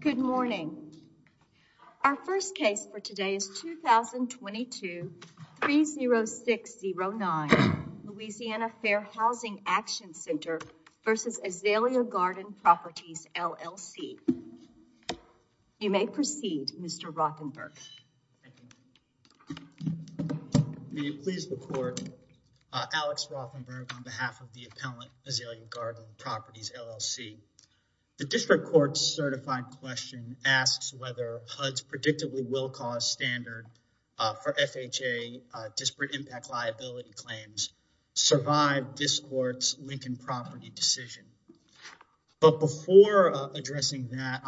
Good morning. Our first case for today is 2022-30609 Louisiana Fair Housing Action Center v. Azalea Garden Properties, LLC. You may proceed, Mr. May it please the court. Alex Rothenberg on behalf of the appellant, Azalea Garden Properties, LLC. The district court's certified question asks whether HUD's predictably will cause standard for FHA disparate impact liability claims survive this court's Lincoln property decision. But before addressing that,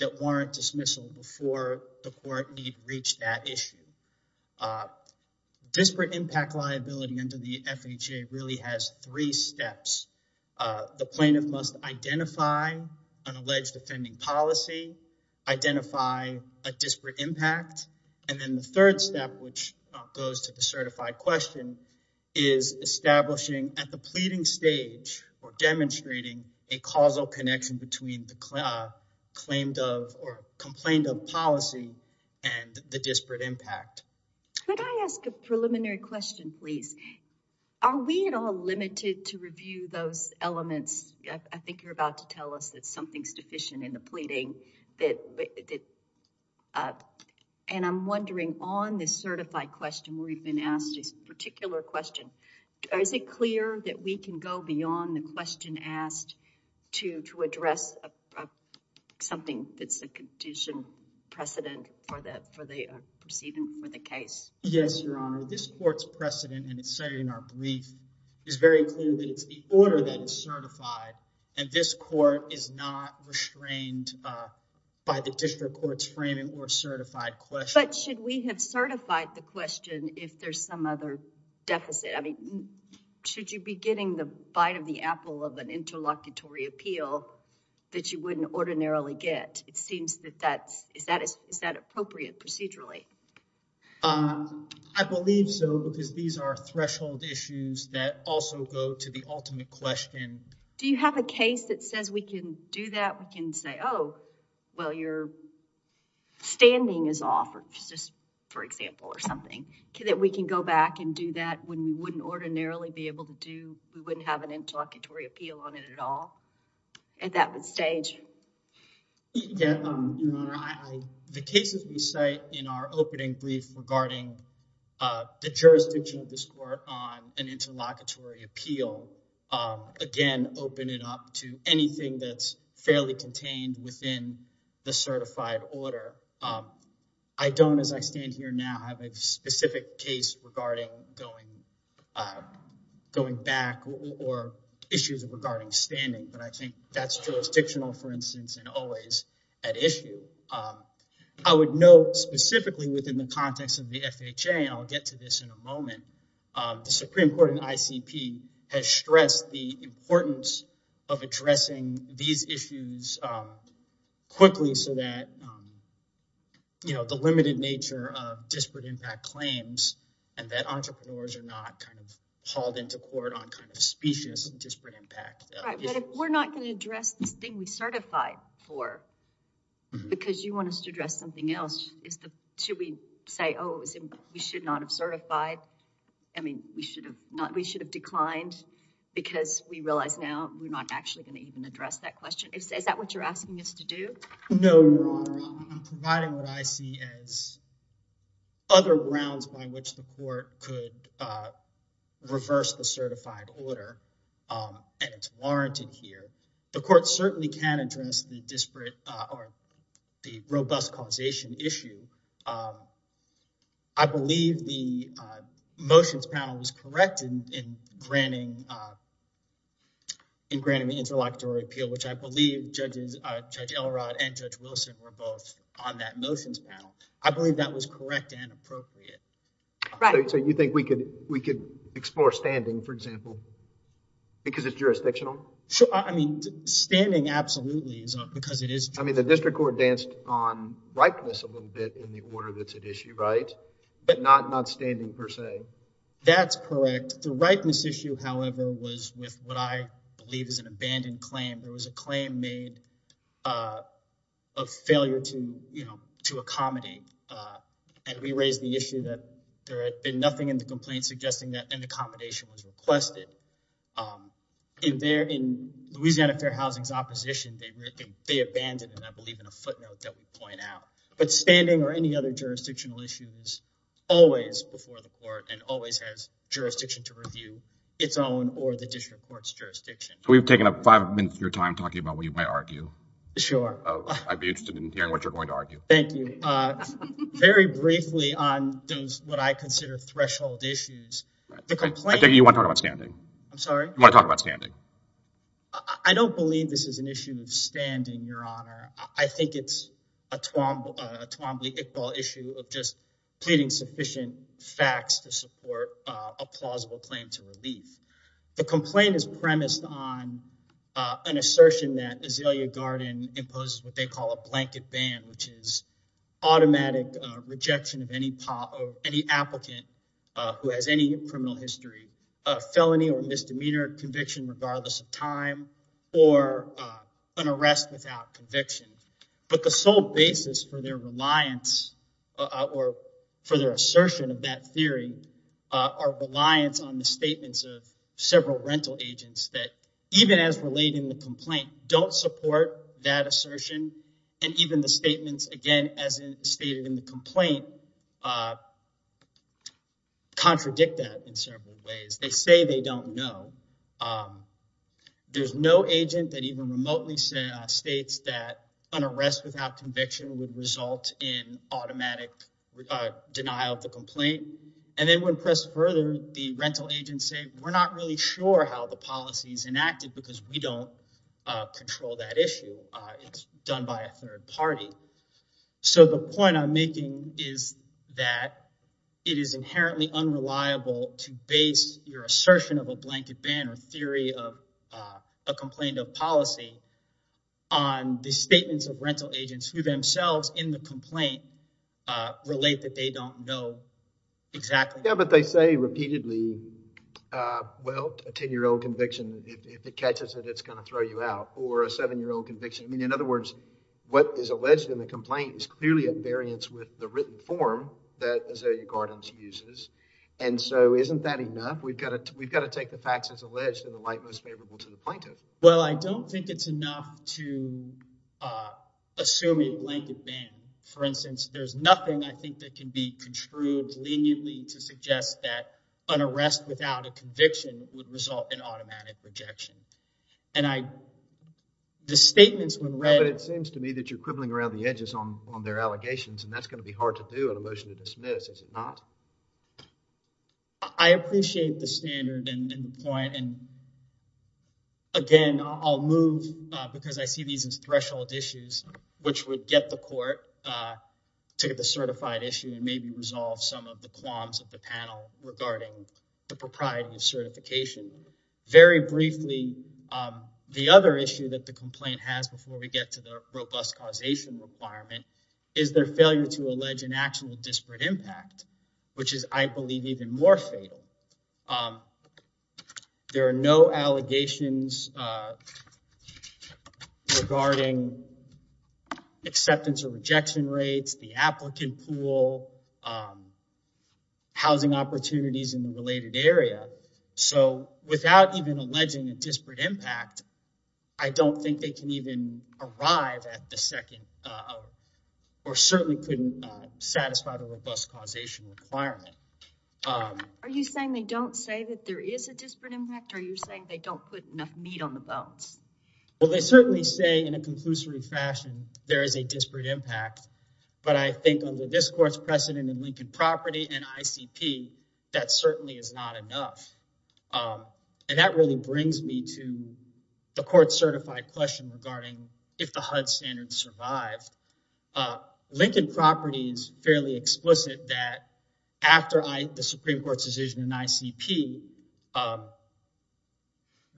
I warrant dismissal before the court need reach that issue. Disparate impact liability under the FHA really has three steps. The plaintiff must identify an alleged offending policy, identify a disparate impact, and then the third step, which goes to the certified question, is establishing at the pleading stage or demonstrating a causal connection between the claimed of or complained of policy and the disparate impact. Could I ask a preliminary question, please? Are we at all limited to review those elements? I think you're about to tell us that something's deficient in the pleading. And I'm wondering on this certified question, we've been asked this particular question, is it clear that we can go beyond the question asked to address something that's a condition precedent for the proceeding for the case? Yes, Your Honor. This court's precedent and it's stated in our brief is very clear that it's the order that is certified and this court is not restrained by the district court's framing or certified question. But should we have certified the question if there's some other deficit? I mean, should you be getting the bite of the apple of an interlocutory appeal that you wouldn't ordinarily get? It seems that that's, is that appropriate procedurally? I believe so because these are threshold issues that also go to the ultimate question. Do you have a case that says we can do that, we can say, oh well, your standing is off, just for example or something, that we can go back and do that when we wouldn't ordinarily be able to do, we wouldn't have an interlocutory appeal on it at all at that stage? The cases we cite in our opening brief regarding the jurisdiction of this court on an interlocutory appeal, again open it up to anything that's fairly contained within the certified order. I don't, as I stand here now, have a specific case regarding going back or issues regarding standing, but I think that's jurisdictional for instance and always at issue. I would note specifically within the context of the FHA, and I'll get to this in a moment, the Supreme Court and quickly so that, you know, the limited nature of disparate impact claims and that entrepreneurs are not kind of hauled into court on kind of specious disparate impact. Right, but if we're not going to address this thing we certify for, because you want us to address something else, is the, should we say, oh we should not have certified, I mean we should have not, we should have declined because we realize now we're not actually going to even address that question. Is that what you're asking us to do? No, Your Honor, I'm providing what I see as other grounds by which the court could reverse the certified order and it's warranted here. The court certainly can address the disparate or the robust causation issue. I believe the motions panel was corrected in granting the interlocutory appeal, which I believe Judge Elrod and Judge Wilson were both on that motions panel. I believe that was correct and appropriate. Right. So you think we could we could explore standing, for example, because it's jurisdictional? Sure, I mean standing absolutely because it is. I mean the district court danced on ripeness a little bit in the order that's at issue, right? But not standing per se. That's correct. The ripeness issue, however, was with what I believe is an abandoned claim. There was a claim made of failure to, you know, to accommodate. And we raised the issue that there had been nothing in the complaint suggesting that an accommodation was requested. In Louisiana Fair Housing's opposition, they abandoned, and I believe in a footnote that we point out. But standing or any other jurisdictional issue is always before the court and always has jurisdiction to review its own or the district court's jurisdiction. We've taken up five minutes of your time talking about what you might argue. Sure. I'd be interested in hearing what you're going to argue. Thank you. Very briefly on those what I consider threshold issues. I think you want to talk about standing. I'm sorry? You want to talk about standing. I don't believe this is an issue of standing, Your Honor. I think it's a Twombly-Iqbal issue of just pleading sufficient facts to support a plausible claim to relief. The complaint is premised on an assertion that Azalea Garden imposes what they call a blanket ban, which is automatic rejection of any applicant who has any criminal history, felony or misdemeanor conviction regardless of time, or an arrest without conviction. The reasons for that theory are reliance on the statements of several rental agents that, even as relating the complaint, don't support that assertion. And even the statements, again, as stated in the complaint, contradict that in several ways. They say they don't know. There's no agent that even remotely states that an arrest without conviction would result in automatic denial of the complaint. And then when pressed further, the rental agents say we're not really sure how the policy is enacted because we don't control that issue. It's done by a third party. So the point I'm making is that it is inherently unreliable to base your assertion of a blanket ban or theory of a complaint of policy on the statements of rental agents who themselves, in the complaint, relate that they don't know exactly. Yeah, but they say repeatedly, well, a ten-year-old conviction, if it catches it, it's going to throw you out. Or a seven-year-old conviction. I mean, in other words, what is alleged in the complaint is clearly a variance with the written form that Azalea Gardens uses. And so isn't that enough? We've got to take the facts as alleged in the light most favorable to the plaintiff. Well, I don't think it's enough to assume a blanket ban. For instance, there's nothing, I think, that can be contrived leniently to suggest that an arrest without a conviction would result in automatic rejection. And I, the statements when read... But it seems to me that you're quibbling around the edges on their allegations and that's going to be hard to do in a motion to dismiss, is it not? I appreciate the standard and the point. And again, I'll move because I see these as threshold issues, which would get the court to get the certified issue and maybe resolve some of the qualms of the panel regarding the propriety of certification. Very briefly, the other issue that the complaint has before we get to the robust causation requirement is their failure to allege an actual disparate impact, which is, I believe, even more fatal. There are no allegations regarding acceptance or rejection rates, the applicant pool, housing opportunities in the related area. So without even alleging a disparate impact, I don't think they have a robust causation requirement. Are you saying they don't say that there is a disparate impact? Are you saying they don't put enough meat on the bones? Well, they certainly say in a conclusory fashion there is a disparate impact, but I think under this court's precedent in Lincoln Property and ICP, that certainly is not enough. And that really brings me to the court-certified question regarding if the HUD standard survived. Lincoln Property is fairly explicit that after the Supreme Court's decision in ICP,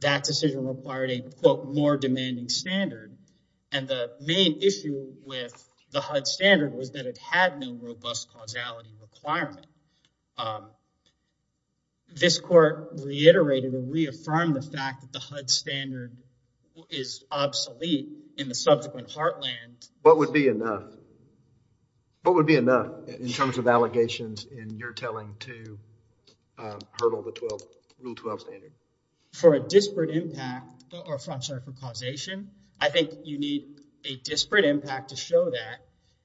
that decision required a, quote, more demanding standard. And the main issue with the HUD standard was that it had no robust causality requirement. This court reiterated and reaffirmed the fact that HUD standard is obsolete in the subsequent heartland. What would be enough? What would be enough in terms of allegations in your telling to hurdle the Rule 12 standard? For a disparate impact or, I'm sorry, for causation, I think you need a disparate impact to show that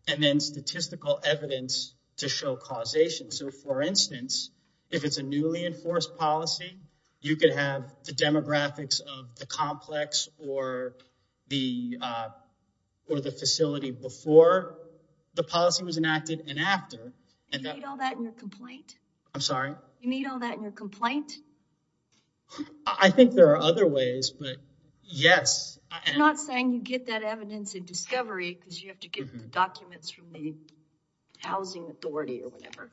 and then statistical evidence to show causation. So, for instance, if it's a newly enforced policy, you could have the graphics of the complex or the facility before the policy was enacted and after. You need all that in your complaint? I'm sorry? You need all that in your complaint? I think there are other ways, but yes. You're not saying you get that evidence in discovery because you have to get documents from the housing authority or whatever.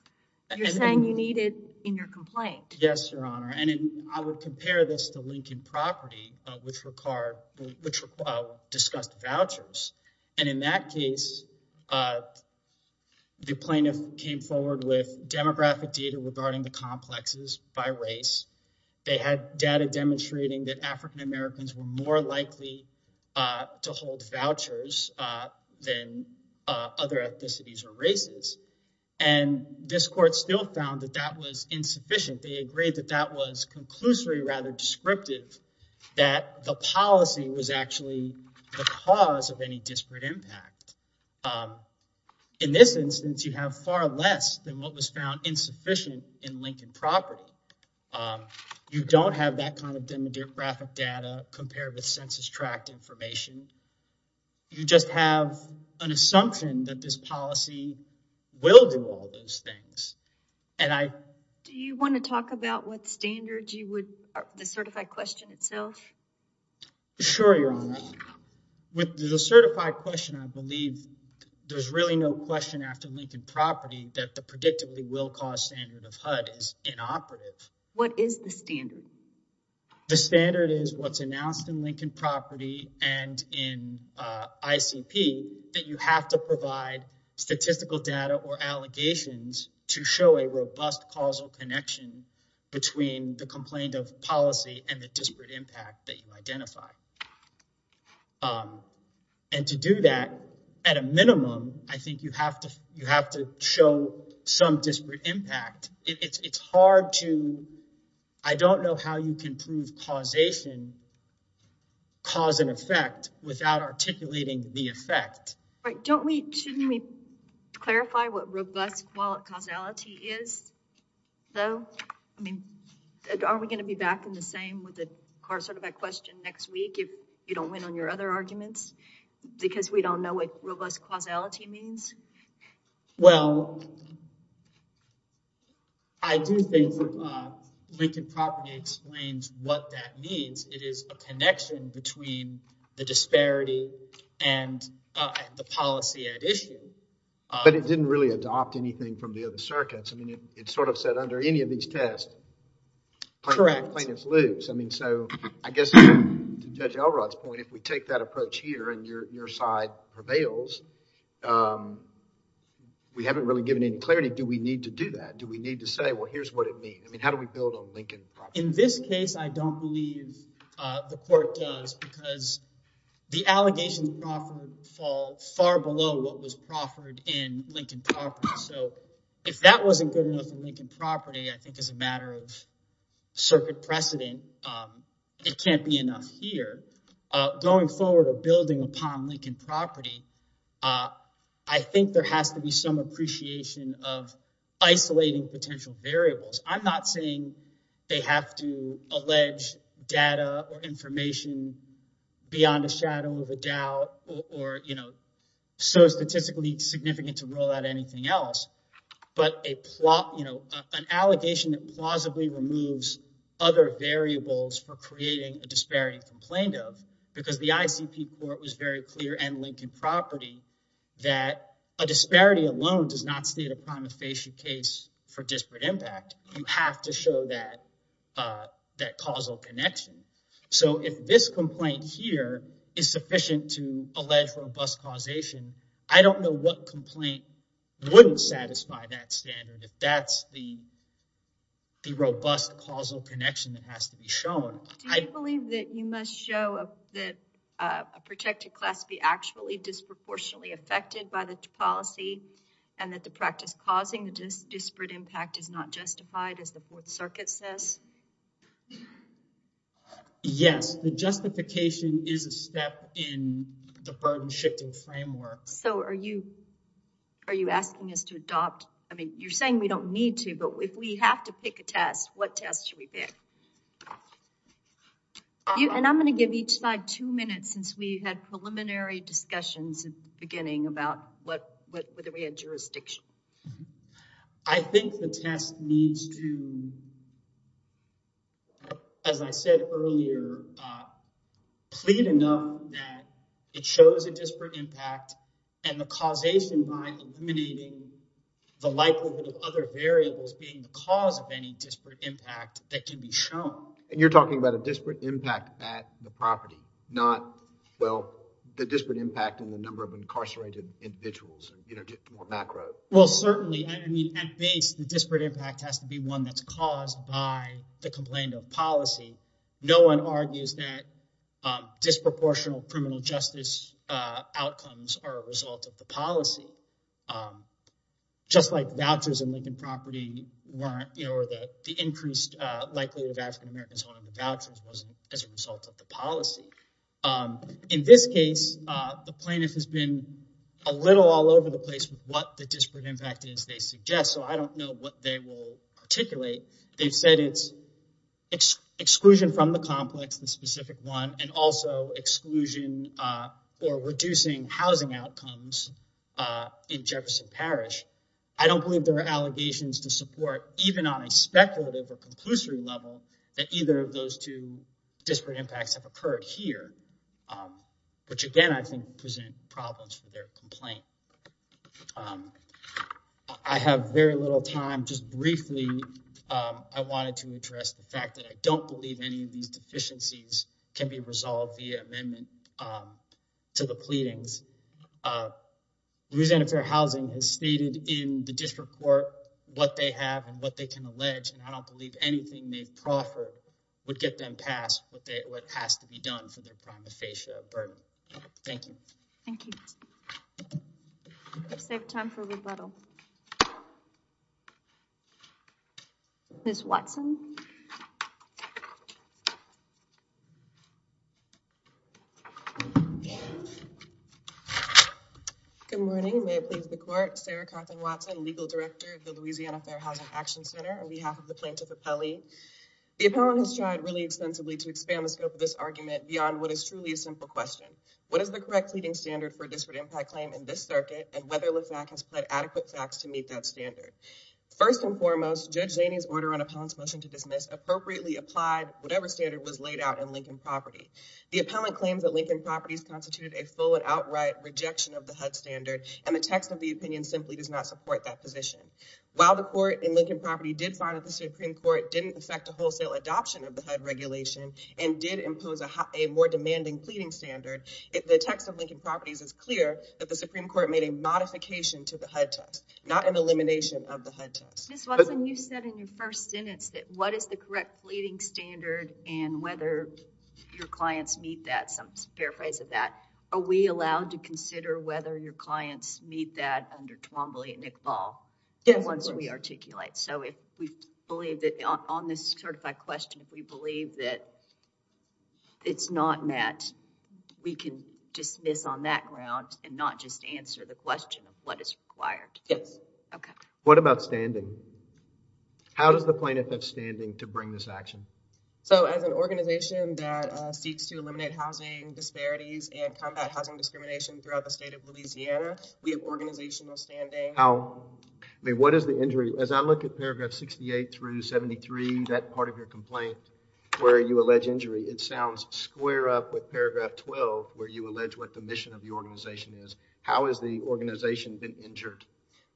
You're saying you need it in your complaint. Yes, Your Honor. And I would compare this to Lincoln Property, which discussed vouchers. And in that case, the plaintiff came forward with demographic data regarding the complexes by race. They had data demonstrating that African Americans were more likely to hold vouchers than other ethnicities or they agreed that that was conclusory rather descriptive that the policy was actually the cause of any disparate impact. In this instance, you have far less than what was found insufficient in Lincoln Property. You don't have that kind of demographic data compared with census tract information. You just have an assumption that this policy will do all those things. Do you want to talk about what standards you would the certified question itself? Sure, Your Honor. With the certified question, I believe there's really no question after Lincoln Property that the predictably will cause standard of HUD is inoperative. What is the standard? The standard is what's announced in Lincoln Property and in ICP that you have to provide statistical data or allegations to show a robust causal connection between the complaint of policy and the disparate impact that you identify. And to do that, at a minimum, I think you have to show some disparate impact. It's hard to, I don't know how you can prove causation, cause and effect without articulating the effect. Right. Don't we, shouldn't we clarify what robust causality is though? I mean, are we going to be back in the same with the car certified question next week if you don't win on your other arguments because we don't know what robust causality means? Well, I do think Lincoln Property explains what that means. It is a connection between the disparity and the policy at issue. But it didn't really adopt anything from the other circuits. I mean, it sort of said under any of these tests, correct, plaintiff's loops. I mean, so I guess to Judge Elrod's point, if we take that approach here and your side prevails, we haven't really given any clarity. Do we need to do that? Do we need to say, well, here's what it means? I mean, how do we build on Lincoln Property? In this case, I don't believe the court does because the allegations of Crawford fall far below what was Crawford in Lincoln Property. So if that wasn't good enough in Lincoln Property, I think as a matter of circuit precedent, it can't be enough here. Going forward or building upon Lincoln Property, I think there has to be some appreciation of isolating potential variables. I'm not saying they have to allege data or information beyond a shadow of a doubt or so statistically significant to rule out anything else. But an allegation that plausibly removes other variables for creating a disparity complaint of because the ICP court was very clear in Lincoln Property that a disparity alone does not state a prima facie case for disparate impact. You have to show that causal connection. So if this complaint here is sufficient to allege robust causation, I don't know what complaint wouldn't satisfy that standard. If that's the causal connection that has to be shown. Do you believe that you must show that a protected class be actually disproportionately affected by the policy and that the practice causing the disparate impact is not justified as the Fourth Circuit says? Yes, the justification is a step in the burden shifting framework. So are you asking us to adopt, I mean you're saying we don't need to, but if we have to pick a test, what test should we pick? And I'm going to give each side two minutes since we had preliminary discussions at the beginning about whether we had jurisdiction. I think the test needs to, as I said earlier, plead enough that it shows a disparate impact and the causation by eliminating the likelihood of other variables being the cause of any disparate impact that can be shown. And you're talking about a disparate impact at the property, not, well, the disparate impact on the number of incarcerated individuals, you know, more macro. Well certainly, I mean at base the disparate impact has to be one that's caused by the complaint of policy. No one argues that disproportional criminal justice outcomes are a result of the policy. Just like vouchers in Lincoln property weren't, you know, the increased likelihood of African Americans owning the vouchers wasn't as a result of the policy. In this case, the plaintiff has been a little all over the place with what the disparate impact is they suggest. So I don't know what they will articulate. They've said it's exclusion from the complex, the specific one, and also exclusion or reducing housing outcomes in Jefferson Parish. I don't believe there are allegations to support, even on a speculative or conclusory level, that either of those two disparate impacts have occurred here, which again I think present problems for their complaint. I have very little time. Just briefly, I wanted to address the fact that I don't believe any of these deficiencies can be resolved via amendment to the pleadings. Louisiana Fair Housing has stated in the district court what they have and what they can allege, and I don't believe anything they've proffered would get them past what has to be done for a burden. Thank you. Thank you. Let's save time for rebuttal. Ms. Watson. Good morning. May it please the court, Sarah Carthen Watson, Legal Director of the Louisiana Fair Housing Action Center, on behalf of the Plaintiff Appellee. The appellant has tried really extensively to expand the scope of this argument beyond what is truly a simple question. What is the correct pleading standard for a disparate impact claim in this circuit, and whether LAFAC has pled adequate facts to meet that standard? First and foremost, Judge Zaney's order on appellant's motion to dismiss appropriately applied whatever standard was laid out in Lincoln Property. The appellant claims that Lincoln Property has constituted a full and outright rejection of the HUD standard, and the text of the opinion simply does not support that position. While the court in Lincoln Property did find that the Supreme Court didn't affect the wholesale adoption of the HUD regulation, and did impose a more demanding pleading standard, the text of Lincoln Properties is clear that the Supreme Court made a modification to the HUD test, not an elimination of the HUD test. Ms. Watson, you said in your first sentence that what is the correct pleading standard, and whether your clients meet that, some paraphrase of that. Are we allowed to consider whether your clients meet that under Twombly and Iqbal, once we articulate? So, if we believe that on this certified question, if we believe that it's not met, we can dismiss on that ground and not just answer the question of what is required? Yes. Okay. What about standing? How does the plaintiff have standing to bring this action? So, as an organization that seeks to eliminate housing disparities and combat housing discrimination throughout the state of Louisiana, we have organizational standing. I mean, what is the injury? As I look at paragraph 68 through 73, that part of your complaint where you allege injury, it sounds square up with paragraph 12 where you allege what the mission of the organization is. How has the organization been injured?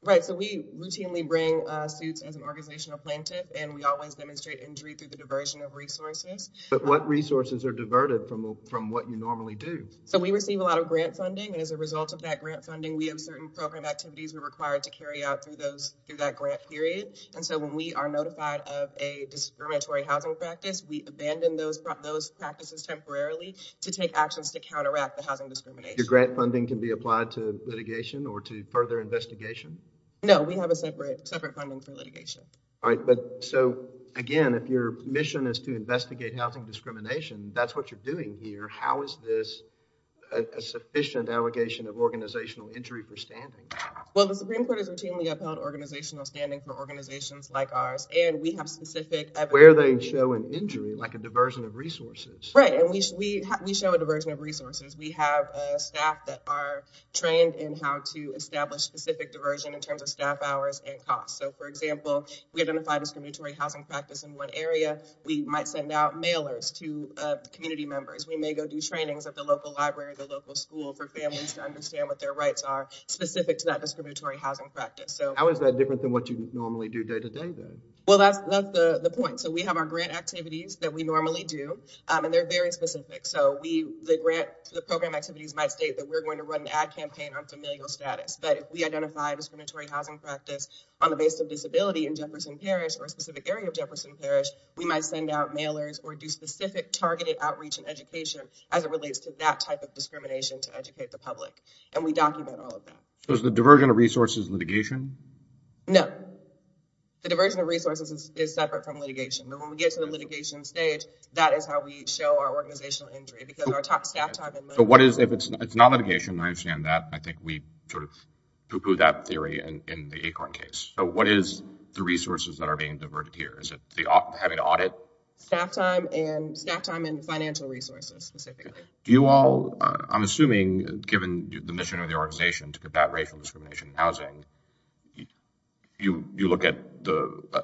Right. So, we routinely bring suits as an organizational plaintiff, and we always demonstrate injury through the diversion of resources. But what resources are diverted from what you normally do? So, we receive a lot of grant funding, and as a result of that grant funding, we have certain program activities required to carry out through that grant period. And so, when we are notified of a discriminatory housing practice, we abandon those practices temporarily to take actions to counteract the housing discrimination. Your grant funding can be applied to litigation or to further investigation? No. We have a separate funding for litigation. All right. But so, again, if your mission is to investigate housing discrimination, that's what you're doing here. How is this a sufficient allegation of organizational injury for standing? Well, the Supreme Court has routinely upheld organizational standing for organizations like ours, and we have specific evidence. Where they show an injury, like a diversion of resources. Right, and we show a diversion of resources. We have staff that are trained in how to establish specific diversion in terms of staff hours and costs. So, for example, we identify discriminatory housing practice in one area, we might send out mailers to community members. We may go do trainings at the local library, the local school for families to understand what their rights are specific to that discriminatory housing practice. So, how is that different than what you normally do day-to-day then? Well, that's the point. So, we have our grant activities that we normally do, and they're very specific. So, the grant, the program activities might state that we're going to run an ad campaign on familial status. But if we identify discriminatory housing practice on the basis of disability in Jefferson Parish or a specific area of Jefferson Parish, we might send out mailers or do specific targeted outreach and and we document all of that. So, is the diversion of resources litigation? No, the diversion of resources is separate from litigation. But when we get to the litigation stage, that is how we show our organizational injury because our top staff time. So, what is, if it's not litigation, I understand that. I think we sort of pooh-poohed that theory in the Acorn case. So, what is the resources that are being diverted here? Is it having to audit? Staff time and financial resources specifically. Do you all, I'm assuming given the mission of the organization to combat racial discrimination in housing, you look at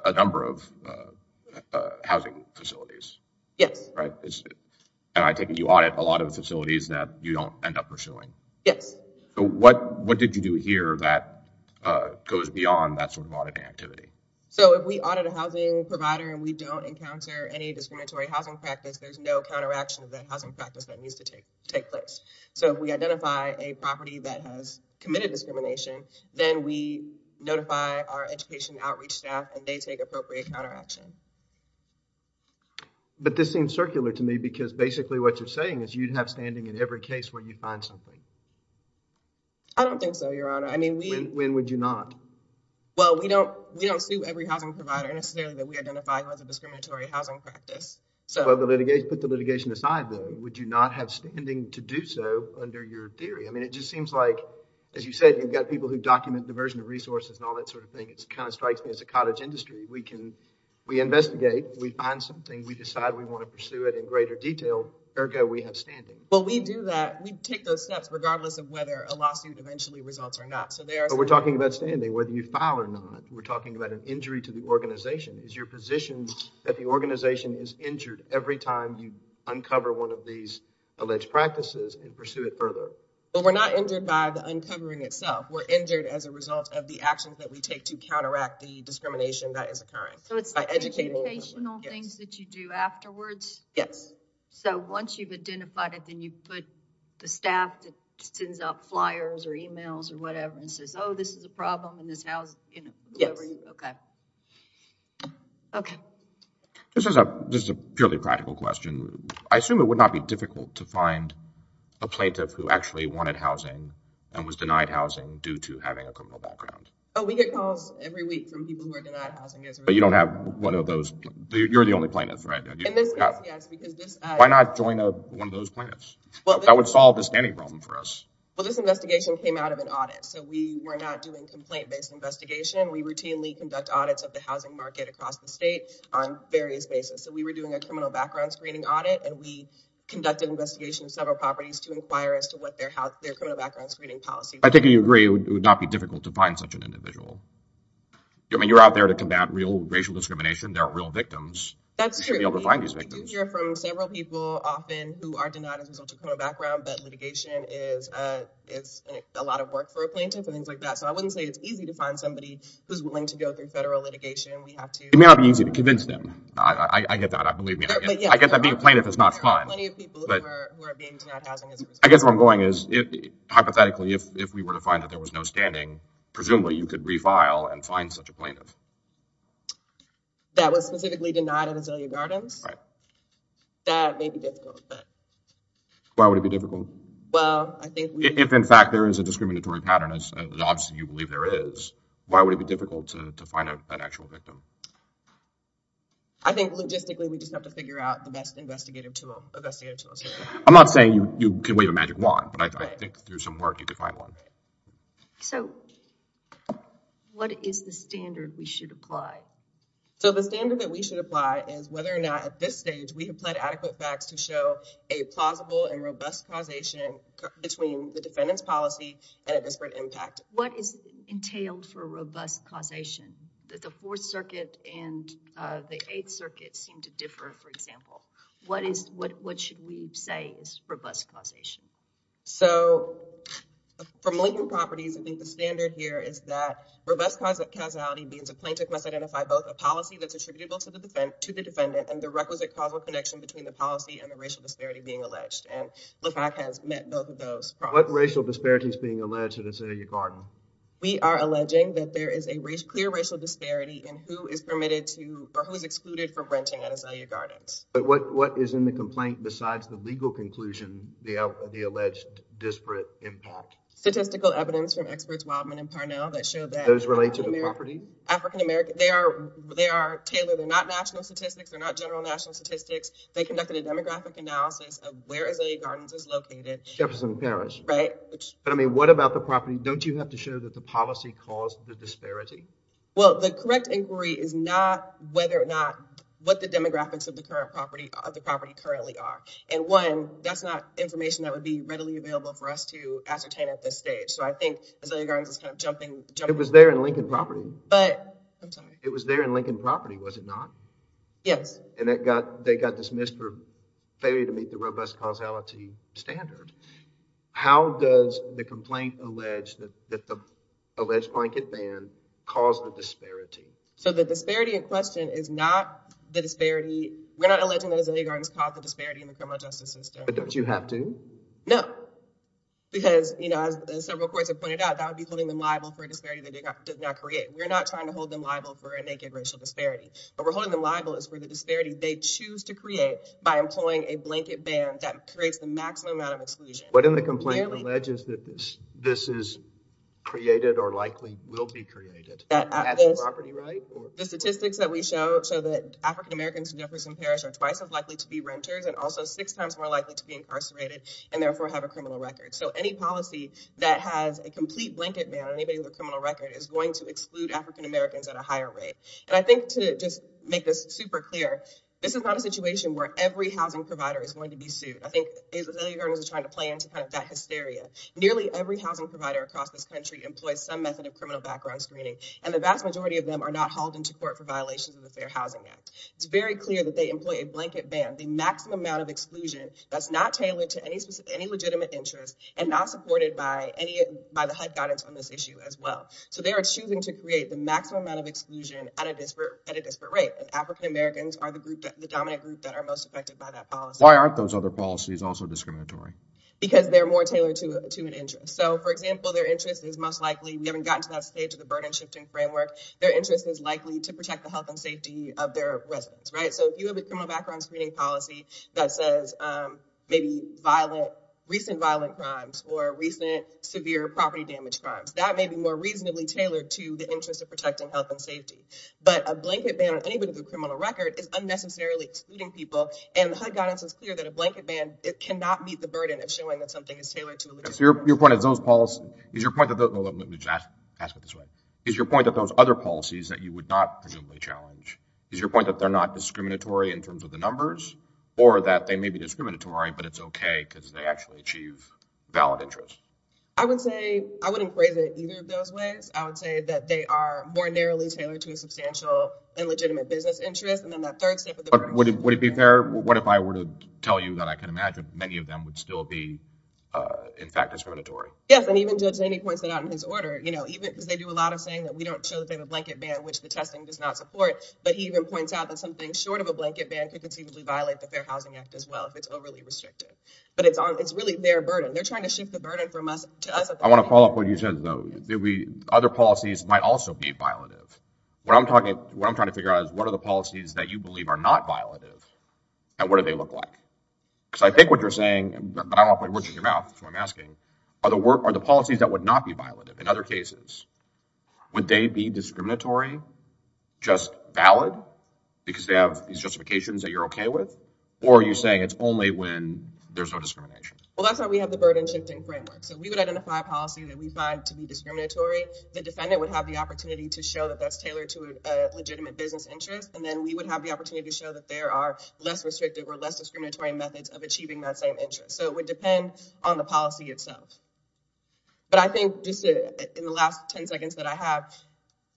a number of housing facilities? Yes. Right. And I take it you audit a lot of the facilities that you don't end up pursuing? Yes. So, what did you do here that goes beyond that sort of auditing activity? So, if we audit a housing provider and we don't encounter any discriminatory housing practice, there's no counteraction of that housing practice that needs to take place. So, if we identify a property that has committed discrimination, then we notify our education outreach staff and they take appropriate counteraction. But this seems circular to me because basically what you're saying is you'd have standing in every case where you find something. I don't think so, your honor. I mean, when would you not? Well, we don't sue every housing provider necessarily that we identify as a discriminatory housing practice. So, put the litigation aside though. Would you not have standing to do so under your theory? I mean, it just seems like, as you said, you've got people who document diversion of resources and all that sort of thing. It kind of strikes me as a cottage industry. We can, we investigate. We find something. We decide we want to pursue it in greater detail. Ergo, we have standing. Well, we do that. We take those steps regardless of whether a lawsuit eventually results or not. But we're talking about standing, whether you file or not. We're talking about an injury to the organization. Is your position that the organization is injured every time you uncover one of these alleged practices and pursue it further? Well, we're not injured by the uncovering itself. We're injured as a result of the actions that we take to counteract the discrimination that is occurring. So, it's the educational things that you do afterwards? Yes. So, once you've identified it, then you put the staff that sends out flyers or emails or whatever and says, oh, this is a problem in this house. Yes. Okay. Okay. This is a purely practical question. I assume it would not be difficult to find a plaintiff who actually wanted housing and was denied housing due to having a criminal background. Oh, we get calls every week from people who are denied housing. But you don't have one of those. You're the only plaintiff, right? Why not join one of those plaintiffs? That would solve the standing problem for us. Well, this investigation came out of an audit. So, we were not doing complaint-based investigation. We routinely conduct audits of the housing market across the state on various basis. So, we were doing a criminal background screening audit and we conducted investigation of several properties to inquire as to what their criminal background screening policy was. I think you agree it would not be difficult to find such an individual. I mean, you're out there to combat racial discrimination. There are real victims. That's true. We do hear from several people often who are denied as a result of a criminal background, but litigation is a lot of work for a plaintiff and things like that. So, I wouldn't say it's easy to find somebody who's willing to go through federal litigation. It may not be easy to convince them. I get that. I believe me. I get that being a plaintiff is not fun. There are plenty of people who are being denied housing. I guess where I'm going is, hypothetically, if we were to find that there was no standing, presumably, you could refile and find such a plaintiff. That was specifically denied at Azalea Gardens? Right. That may be difficult, but... Why would it be difficult? Well, I think... If, in fact, there is a discriminatory pattern, as obviously you believe there is, why would it be difficult to find an actual victim? I think logistically, we just have to figure out the best investigative tool. I'm not saying you can wave a magic wand, but I think through some work you could find one. So, what is the standard we should apply? So, the standard that we should apply is whether or not, at this stage, we have pled adequate facts to show a plausible and robust causation between the defendant's policy and a disparate impact. What is entailed for robust causation? The Fourth Circuit and the Eighth Circuit seem to differ, for example. What should we say is robust causation? So, from Lincoln Properties, I think the standard here is that robust causality means a plaintiff must identify both a policy that's attributable to the defendant and the requisite causal connection between the policy and the racial disparity being alleged. And LAFAC has met both of those problems. What racial disparity is being alleged at Azalea Gardens? We are alleging that there is a clear racial disparity in who is permitted to or who is excluded from renting at Azalea Gardens. But what is in the complaint besides the legal conclusion, the alleged disparate impact? Statistical evidence from experts Wildman and Parnell that show that Those relate to the property? African-American. They are tailored. They're not national statistics. They're not general national statistics. They conducted a demographic analysis of where Azalea Gardens is located. Jefferson Parish. Right. But, I mean, what about the property? Don't you have to show that the policy caused the disparity? Well, the correct inquiry is not whether or not what the demographics of the current property, of the property currently are. And one, that's not information that would be readily available for us to ascertain at this stage. So I think Azalea Gardens is kind of jumping. It was there in Lincoln Property. But, I'm sorry. It was there in Lincoln Property, was it not? Yes. And that got, they got dismissed for failure to meet the robust causality standard. How does the complaint allege that the alleged blanket ban caused the disparity? So the disparity in question is not the disparity. We're not alleging that Azalea Gardens caused the disparity in the criminal justice system. But don't you have to? No. Because, you know, as several courts have pointed out, that would be holding them liable for a disparity they did not create. We're not trying to hold them liable for a naked racial disparity. What we're holding them liable is for the disparity they choose to create by employing a blanket ban that creates the maximum amount of exclusion. What in the complaint alleges that this is created or likely will be created? The statistics that we show show that African Americans in Jefferson Parish are twice as likely to be renters and also six times more likely to be incarcerated and therefore have a criminal record. So any policy that has a complete blanket ban on anybody with a criminal record is going to exclude African Americans at a higher rate. And I think to just make this super clear, this is not a situation where every housing provider is going to be sued. I think Azalea Gardens is trying to play into that hysteria. Nearly every housing provider across this country employs some method of criminal background screening, and the vast majority of them are not hauled into court for violations of the Fair Housing Act. It's very clear that they employ a blanket ban, the maximum amount of exclusion, that's not tailored to any legitimate interest and not supported by the HUD guidance on this issue as well. So they are choosing to create the maximum amount of exclusion at a disparate rate. African Americans are the group, the dominant group that are most affected by that policy. Why aren't those other policies also discriminatory? Because they're more tailored to an interest. So for example, their interest is most likely, we haven't gotten to that stage of the burden shifting framework, their interest is likely to protect the health and safety of their residents, right? So if you have a criminal background screening policy that says maybe recent violent crimes or recent severe property damage crimes, that may be more reasonably tailored to the interest of protecting health and safety. But a blanket ban on anybody with a criminal record is unnecessarily excluding people, and the HUD guidance is clear that a blanket ban, it cannot meet the burden of showing that something is tailored to a legitimate interest. So your point is those policies, is your point that, let me just ask it this way, is your point that those other policies that you would not presumably challenge, is your point that they're not discriminatory in terms of the numbers, or that they may be discriminatory, but it's okay because they actually achieve valid interest? I would say, I wouldn't phrase it either of those ways. I would say that they are more narrowly tailored to a substantial and legitimate business interest. And then that third step of the burden... But would it be fair, what if I were to tell you that I could imagine many of them would still be, in fact, discriminatory? Yes, and even Judge Zaney points that out in his order, even because they do a lot of saying that we don't show that they have a blanket ban, which the testing does not support, but he even points out that something short of a blanket ban could conceivably violate the Fair Housing Act as well, if it's overly restrictive. But it's really their burden. They're trying to shift the burden from What I'm trying to figure out is, what are the policies that you believe are not violative, and what do they look like? Because I think what you're saying, but I don't want words in your mouth, so I'm asking, are the policies that would not be violative in other cases, would they be discriminatory, just valid, because they have these justifications that you're okay with? Or are you saying it's only when there's no discrimination? Well, that's why we have the burden shifting framework. So we would identify a policy that we find to be discriminatory. The defendant would have the opportunity to show that that's tailored to a legitimate business interest, and then we would have the opportunity to show that there are less restrictive or less discriminatory methods of achieving that same interest. So it would depend on the policy itself. But I think just in the last 10 seconds that I have,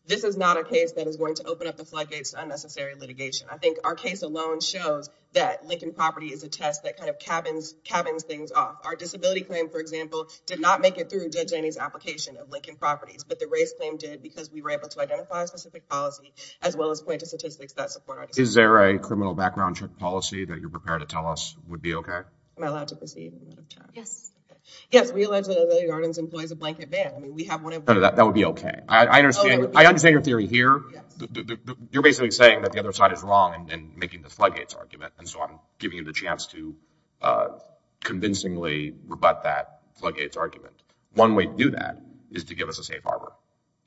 this is not a case that is going to open up the floodgates to unnecessary litigation. I think our case alone shows that Lincoln Property is a test that kind of cabins things off. Our disability claim, for example, did not make it application of Lincoln Properties, but the race claim did because we were able to identify a specific policy as well as point to statistics that support it. Is there a criminal background check policy that you're prepared to tell us would be okay? Am I allowed to proceed? Yes. Yes, we allege that Amelia Yardens employs a blanket ban. I mean, we have one of them. That would be okay. I understand your theory here. You're basically saying that the other side is wrong in making the floodgates argument, and so I'm giving you the chance to convincingly rebut that argument. One way to do that is to give us a safe harbor.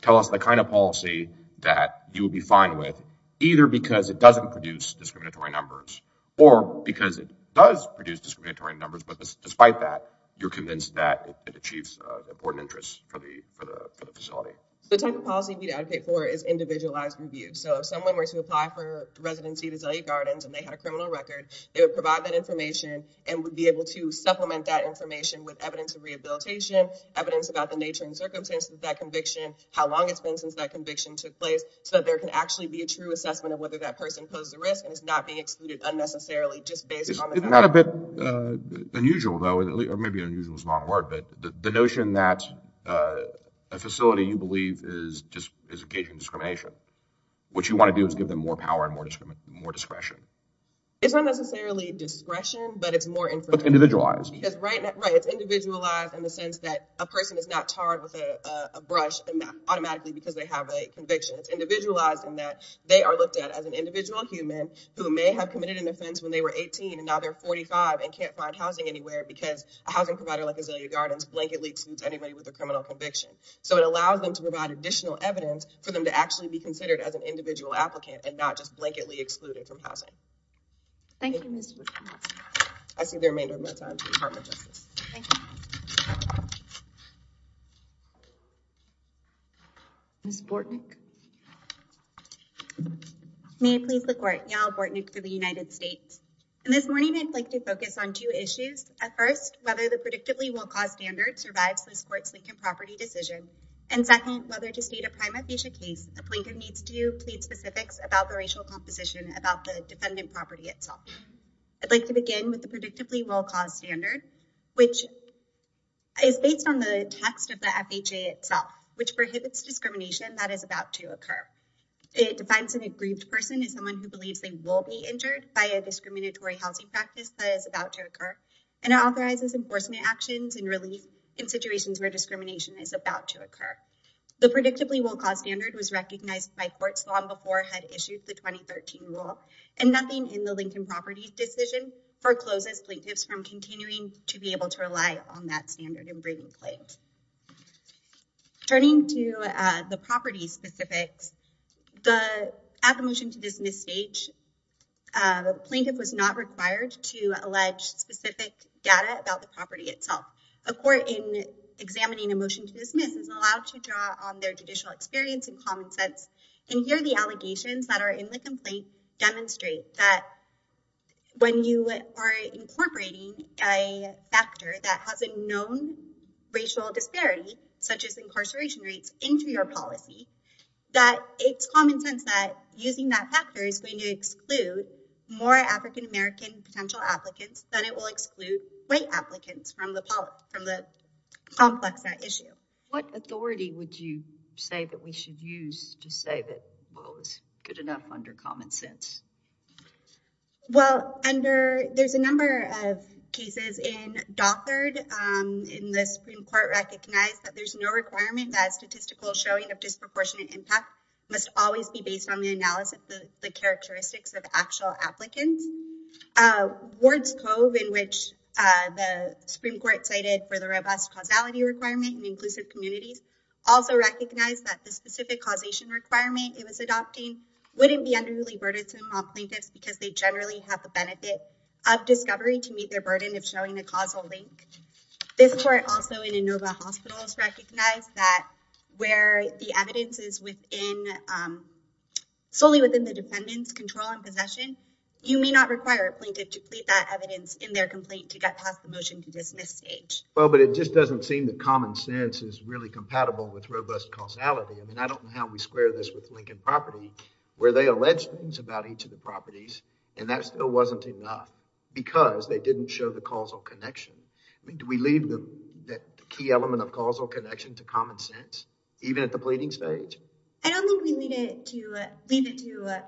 Tell us the kind of policy that you would be fine with, either because it doesn't produce discriminatory numbers or because it does produce discriminatory numbers. But despite that, you're convinced that it achieves important interests for the facility. The type of policy we'd advocate for is individualized review. So if someone were to apply for residency at Azalea Gardens and they had a criminal record, they would provide that information and would be able to supplement that information with evidence of rehabilitation, evidence about the nature and circumstances of that conviction, how long it's been since that conviction took place, so that there can actually be a true assessment of whether that person poses a risk and is not being excluded unnecessarily just based on that. Isn't that a bit unusual, though, or maybe unusual is the wrong word, but the notion that a facility you believe is just engaging in discrimination, what you want to do is give them more power and more discretion. It's not necessarily discretion, but it's more information. But it's individualized. Right, it's individualized in the sense that a person is not tarred with a brush automatically because they have a conviction. It's individualized in that they are looked at as an individual human who may have committed an offense when they were 18 and now they're 45 and can't find housing anywhere because a housing provider like Azalea Gardens blanketly excludes anybody with a criminal conviction. So it allows them to provide additional evidence for them to actually be considered as an individual applicant and not just blanketly excluded from housing. Thank you, Ms. Bortnick. I see the remainder of my time to the Department of Justice. Thank you. Ms. Bortnick. May it please the Court, Yael Bortnick for the United States. And this morning I'd like to focus on two issues. At first, whether the predictably low cost standard survives this Court's Lincoln property decision. And second, whether to state a prima facie case, the plaintiff needs to plead specifics about the racial composition about the defendant property itself. I'd like to begin with the predictably low cost standard, which is based on the text of the FHA itself, which prohibits discrimination that is about to occur. It defines an aggrieved person as someone who believes they will be injured by a discriminatory housing practice that is about to occur and authorizes enforcement actions and relief in situations where discrimination is about to occur. The predictably low cost standard was recognized by courts long before it had issued the 2013 rule. And nothing in the Lincoln property decision forecloses plaintiffs from continuing to be able to rely on that standard in bringing claims. Turning to the property specifics, at the motion to dismiss stage, the plaintiff was not required to allege specific data about the property itself. A court in examining a motion to dismiss is allowed to draw on their judicial experience and common sense, and here the allegations that are in the complaint demonstrate that when you are incorporating a factor that has a known racial disparity, such as incarceration rates, into your policy, that it's common sense that using that factor is going to exclude more African American potential applicants than it will exclude white applicants from the complex at issue. What authority would you say that we should use to say that, well, it's good enough under common sense? Well, under, there's a number of cases in Dothard in the Supreme Court recognized that there's no requirement that statistical showing of disproportionate impact must always be based on the analysis of the characteristics of actual applicants. Uh, Ward's Cove, in which the Supreme Court cited for the robust causality requirement in inclusive communities, also recognized that the specific causation requirement it was adopting wouldn't be underly burdensome on plaintiffs because they generally have the benefit of discovery to meet their burden of showing a causal link. This court also in Inova Hospitals recognized that where the evidence is within, um, solely within the defendant's control and possession, you may not require a plaintiff to plead that evidence in their complaint to get past the motion to dismiss stage. Well, but it just doesn't seem that common sense is really compatible with robust causality. I mean, I don't know how we square this with Lincoln Property, where they alleged things about each of the properties, and that still wasn't enough because they didn't show the causal connection. I mean, do we leave the key element of causal connection to common sense, even at the pleading stage? I don't think we leave it to, leave it to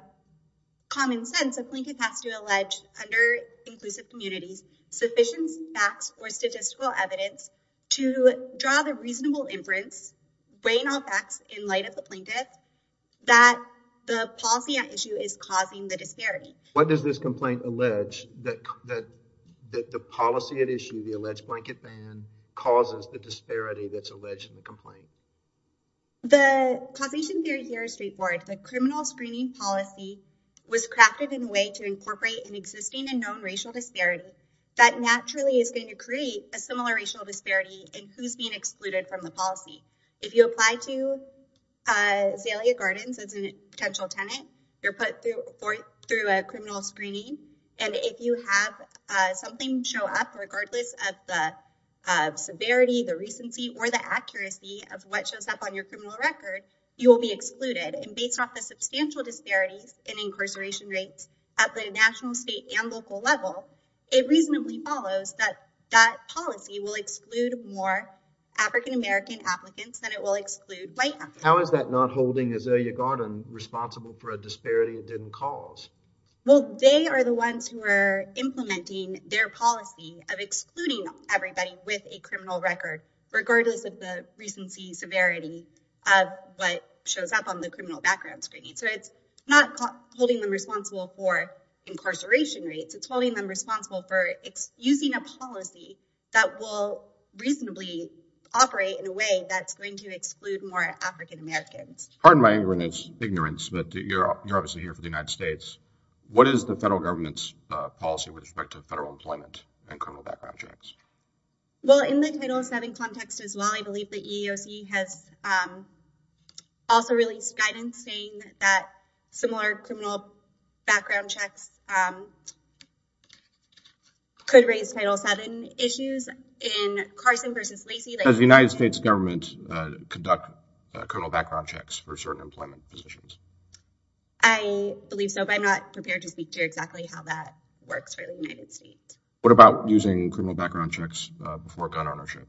common sense. A plaintiff has to allege under inclusive communities sufficient facts or statistical evidence to draw the reasonable inference, weighing all facts in light of the plaintiff, that the policy at issue is causing the disparity. What does this complaint allege that, that, that the policy at issue, the alleged blanket The causation theory here is straightforward. The criminal screening policy was crafted in a way to incorporate an existing and known racial disparity that naturally is going to create a similar racial disparity in who's being excluded from the policy. If you apply to, uh, Zalia Gardens as a potential tenant, you're put through a criminal screening, and if you have something show up, regardless of the severity, the recency, or the accuracy of what shows up on your criminal record, you will be excluded. And based off the substantial disparities in incarceration rates at the national, state, and local level, it reasonably follows that that policy will exclude more African American applicants than it will exclude white applicants. How is that not holding Zalia Garden responsible for a disparity it didn't cause? Well, they are the ones who are implementing their policy of excluding everybody with a severity of what shows up on the criminal background screening. So it's not holding them responsible for incarceration rates. It's holding them responsible for using a policy that will reasonably operate in a way that's going to exclude more African Americans. Pardon my ignorance, but you're obviously here for the United States. What is the federal government's policy with respect to federal employment and criminal background checks? Well, in the Title VII context as well, I believe the EEOC has also released guidance saying that similar criminal background checks could raise Title VII issues in Carson versus Lacey. Does the United States government conduct criminal background checks for certain employment positions? I believe so, but I'm not prepared to speak to exactly how that works for the United States. What about using criminal background checks before gun ownership?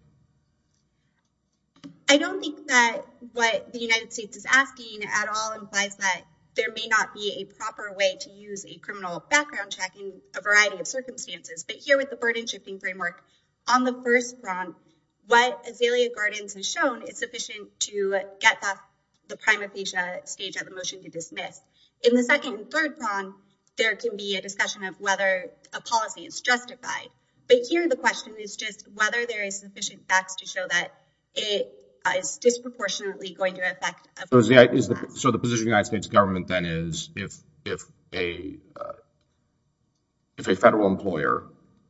I don't think that what the United States is asking at all implies that there may not be a proper way to use a criminal background check in a variety of circumstances. But here with the burden-shifting framework, on the first front, what Zalia Gardens has shown is sufficient to get the prima facie stage of the motion to dismiss. In the second and third front, there can be a discussion of whether a policy is justified. But here the question is just whether there is sufficient facts to show that it is disproportionately going to affect- So the position of the United States government then is if a federal employer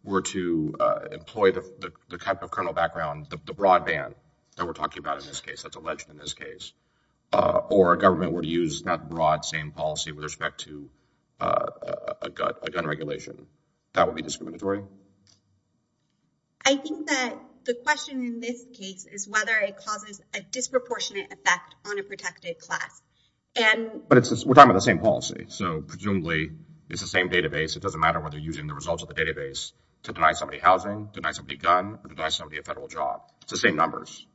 were to employ the type of criminal background, the broadband that we're talking about in this case, that's with respect to a gun regulation. That would be discriminatory? I think that the question in this case is whether it causes a disproportionate effect on a protected class. But we're talking about the same policy. So presumably it's the same database. It doesn't matter whether you're using the results of the database to deny somebody housing, deny somebody a gun, or deny somebody a federal job. It's the same numbers.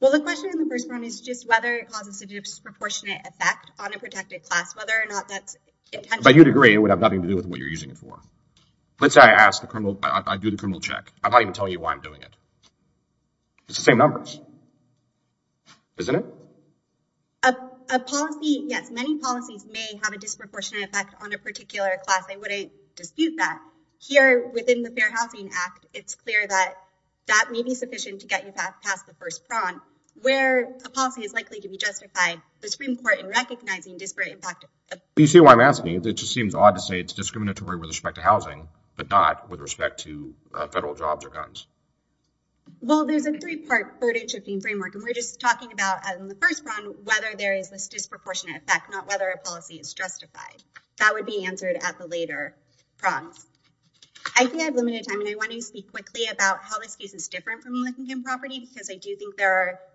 Well, the question on the first front is just whether it causes a disproportionate effect on a protected class, whether or not that's intentional. But you'd agree it would have nothing to do with what you're using it for. Let's say I do the criminal check. I'm not even telling you why I'm doing it. It's the same numbers, isn't it? A policy, yes, many policies may have a disproportionate effect on a particular class. I wouldn't dispute that. Here within the Fair Housing Act, it's clear that that may be sufficient to get you past the first front. Where a policy is likely to be justified, the Supreme Court in recognizing disparate impact. You see why I'm asking. It just seems odd to say it's discriminatory with respect to housing, but not with respect to federal jobs or guns. Well, there's a three-part burden-shifting framework. And we're just talking about, as in the first round, whether there is this disproportionate effect, not whether a policy is justified. That would be answered at the later prongs. I think I've limited time, and I want to speak quickly about how this case is different from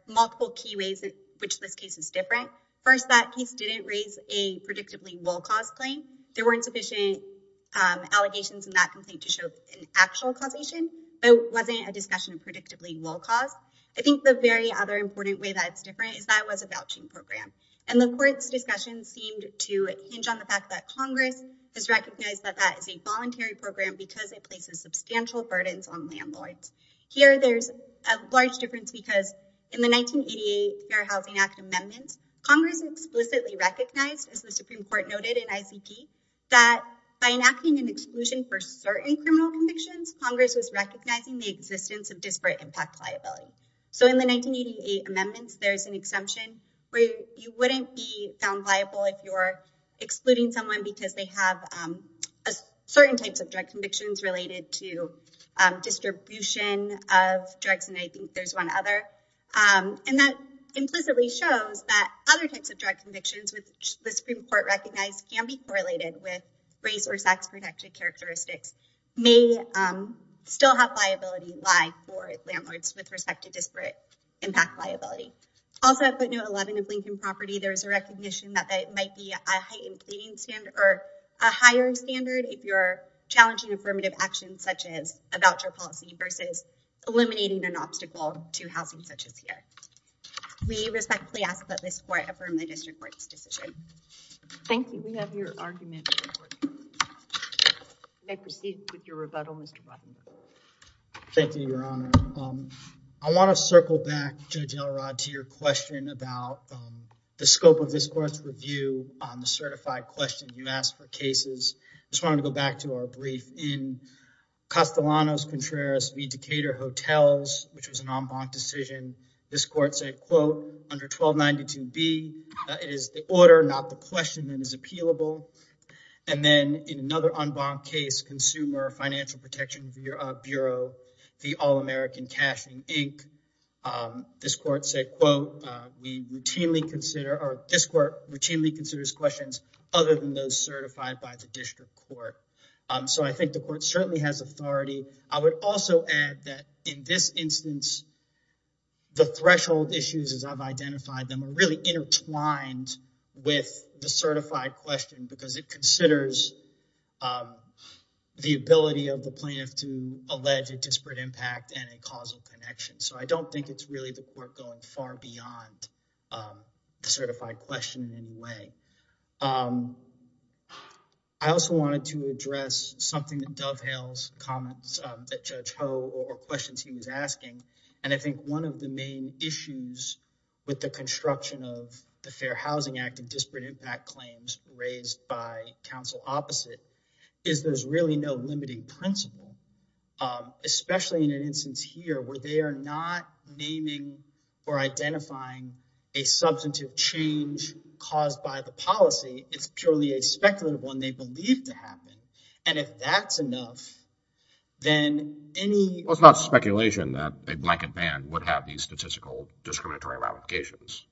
multiple key ways in which this case is different. First, that case didn't raise a predictably well-caused claim. There weren't sufficient allegations in that complaint to show an actual causation. It wasn't a discussion of predictably well-caused. I think the very other important way that it's different is that it was a vouching program. And the Court's discussion seemed to hinge on the fact that Congress has recognized that that is a voluntary program because it places substantial burdens on landlords. Here, there's a large difference because in the 1988 Fair Housing Act amendments, Congress explicitly recognized, as the Supreme Court noted in ICP, that by enacting an exclusion for certain criminal convictions, Congress was recognizing the existence of disparate impact liability. So in the 1988 amendments, there's an exemption where you wouldn't be found liable if you're excluding someone because they have certain types of direct convictions related to distribution of drugs, and I think there's one other. And that implicitly shows that other types of direct convictions, which the Supreme Court recognized can be correlated with race or sex-protected characteristics, may still have liability lie for landlords with respect to disparate impact liability. Also, at footnote 11 of Lincoln Property, there's a recognition that it might be a heightened pleading standard or a higher standard if you're challenging affirmative action, such as a voucher policy, versus eliminating an obstacle to housing such as here. We respectfully ask that this Court affirm the District Court's decision. Thank you. We have your argument. I proceed with your rebuttal, Mr. Robin. Thank you, Your Honor. I want to circle back, Judge Elrod, to your question about the scope of this Court's review on the certified question you asked for cases. I just want to go back to our brief. In Castellanos Contreras v. Decatur Hotels, which was an en banc decision, this Court said, quote, under 1292B, it is the order, not the question, that is appealable. And then in another en banc case, Consumer Financial Protection Bureau v. All-American Cashing, Inc., this Court said, quote, we routinely consider, or this Court routinely considers questions other than those certified by the District Court. So I think the Court certainly has authority. I would also add that in this instance, the threshold issues, as I've identified them, are really intertwined with the certified question because it considers the ability of the plaintiff to allege a disparate impact and a causal connection. So I don't think it's really the Court going far beyond the certified question in any way. I also wanted to address something that dovetails comments that Judge Ho or questions he was asking, and I think one of the main issues with the construction of the Fair Housing Act and disparate impact claims raised by counsel opposite is there's really no limiting principle, especially in an instance here where they are not naming or identifying a policy. It's purely a speculative one they believe to happen. And if that's enough, then any... Well, it's not speculation that a blanket ban would have these statistical discriminatory ramifications.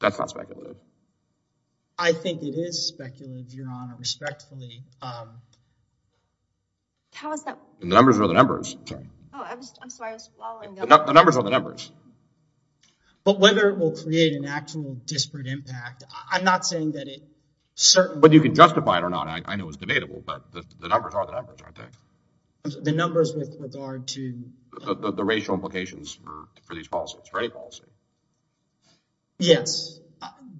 That's not speculative. I think it is speculative, Your Honor, respectfully. How is that... The numbers are the numbers. Sorry. Oh, I'm sorry. I was following up. The numbers are the numbers. But whether it will create an actual disparate impact, I'm not saying that it certainly... Whether you can justify it or not, I know it's debatable, but the numbers are the numbers, I think. The numbers with regard to... The racial implications for these policies, for any policy. Yes,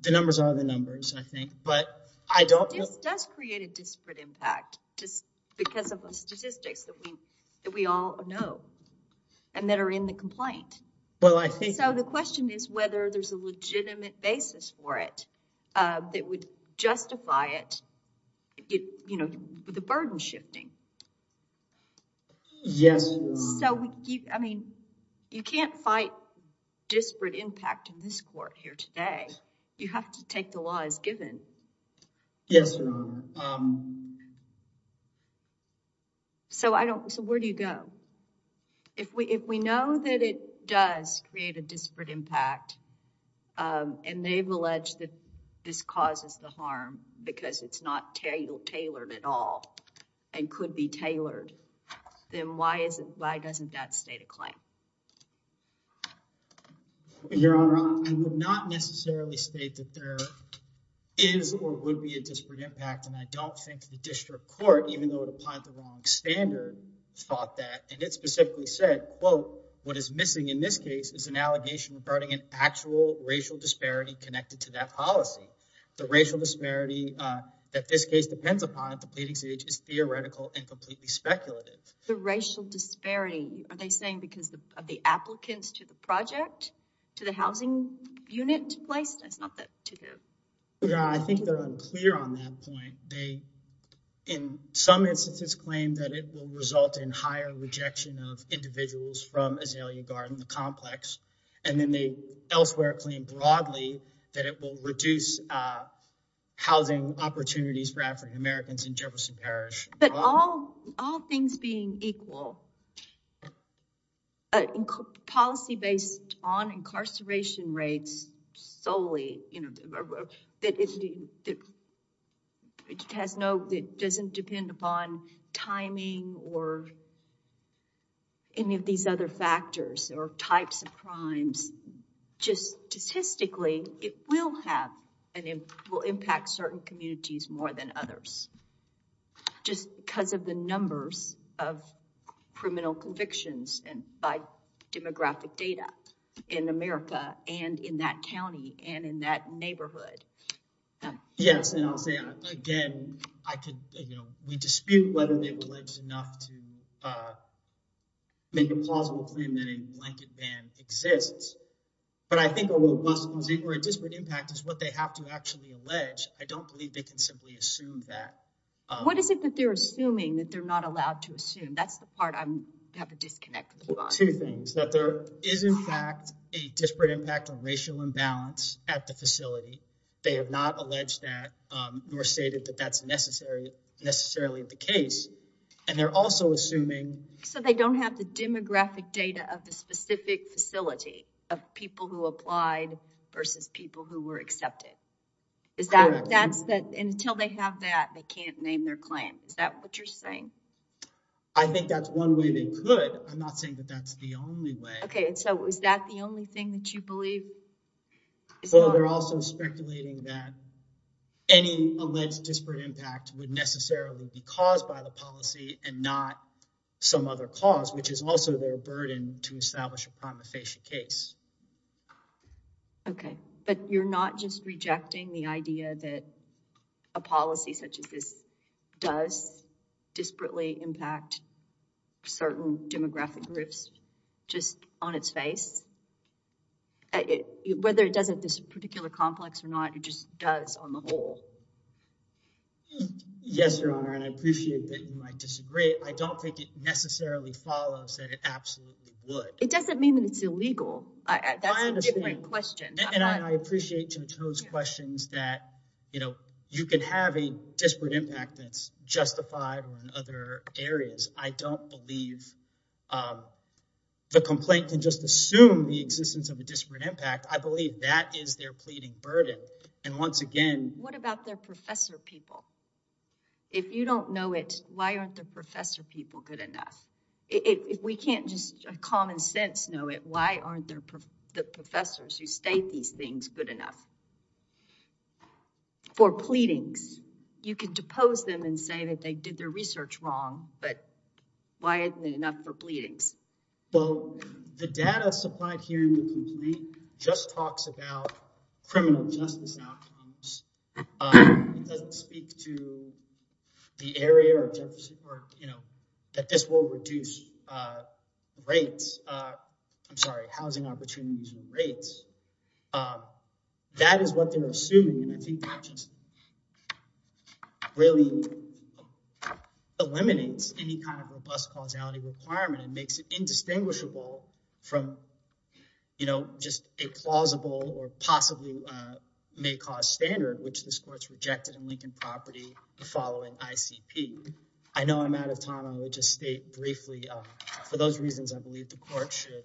the numbers are the numbers, I think, but I don't... It does create a disparate impact just because of the statistics that we all know and that are in the complaint. Well, I think... So the question is whether there's a legitimate basis for it that would justify it, you know, the burden shifting. Yes, Your Honor. So we keep... I mean, you can't fight disparate impact in this court here today. You have to take the law as given. Yes, Your Honor. So I don't... So where do you go? If we know that it does create a disparate impact and they've alleged that this causes the harm because it's not tailored at all and could be tailored, then why doesn't that state a claim? Your Honor, I would not necessarily state that there is or would be a disparate impact, and I don't think the district court, even though it applied the wrong standard, thought that, and it specifically said, quote, what is missing in this case is an allegation regarding an actual racial disparity connected to that policy. The racial disparity that this case depends upon at the pleading stage is theoretical and completely speculative. The racial disparity, are they saying because of the applicants to the project, to the housing unit placed? That's not that... Yeah, I think they're unclear on that point. They, in some instances, claim that it will result in higher rejection of individuals from Azalea Garden, the complex, and then they elsewhere claim broadly that it will reduce housing opportunities for African Americans in Jefferson Parish. But all things being equal, policy based on incarceration rates solely, you know, that it has no, it doesn't depend upon timing or any of these other factors or types of crimes, just statistically, it will have an impact, will impact certain communities more than others. Just because of the numbers of criminal convictions and by demographic data in America and in that county and in that neighborhood. Yes, and I'll say again, I could, you know, we dispute whether they were alleged enough to make a plausible claim that a blanket ban exists. But I think a robust, or a disparate impact is what they have to actually allege. I don't believe they can simply assume that. What is it that they're assuming that they're not allowed to assume? That's the part I have to disconnect with. Two things. That there is in fact a disparate impact on racial imbalance at the facility. They have not alleged that nor stated that that's necessarily the case. And they're also assuming. So they don't have the demographic data of the specific facility of people who applied versus people who were accepted. Is that, that's that until they have that, they can't name their claim. Is that what you're saying? I think that's one way they could. I'm not saying that that's the only way. Okay. So is that the only thing that you believe? Well, they're also speculating that any alleged disparate impact would necessarily be caused by the policy and not some other cause, which is also their burden to establish a prima facie case. Okay. But you're not just rejecting the idea that a policy such as this does disparately impact certain demographic groups just on its face. Whether it doesn't this particular complex or not, it just does on the whole. Yes, Your Honor. And I appreciate that you might disagree. I don't think it necessarily follows that it absolutely would. It doesn't mean that it's illegal. That's a different question. And I appreciate Jim's questions that, you know, you can have a disparate impact that's justified in other areas. I don't believe the complaint can just assume the existence of a disparate impact. I believe that is their pleading burden. And once again... What about their professor people? If you don't know it, why aren't the professor people good enough? If we can't just common sense know it, why aren't the professors who state these things good enough for pleadings? You can depose them and say that they did their research wrong, but why isn't it enough for pleadings? Well, the data supplied here in the complaint just talks about criminal justice outcomes. It doesn't speak to the area or, you know, that this will reduce rates. I'm sorry, housing opportunities and rates. That is what they're assuming. And I think that just really eliminates any kind of robust causality requirement and makes it indistinguishable from, you know, just a plausible or possibly may cause standard, which this court's rejected in Lincoln Property the following ICP. I know I'm out of time. I would just state briefly, for those reasons, I believe the court should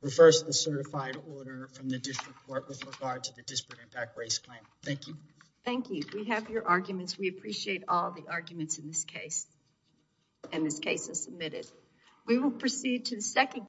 refer to the certified order from the district court with regard to the disparate impact race claim. Thank you. Thank you. We have your arguments. We appreciate all the arguments in this case. And this case is submitted.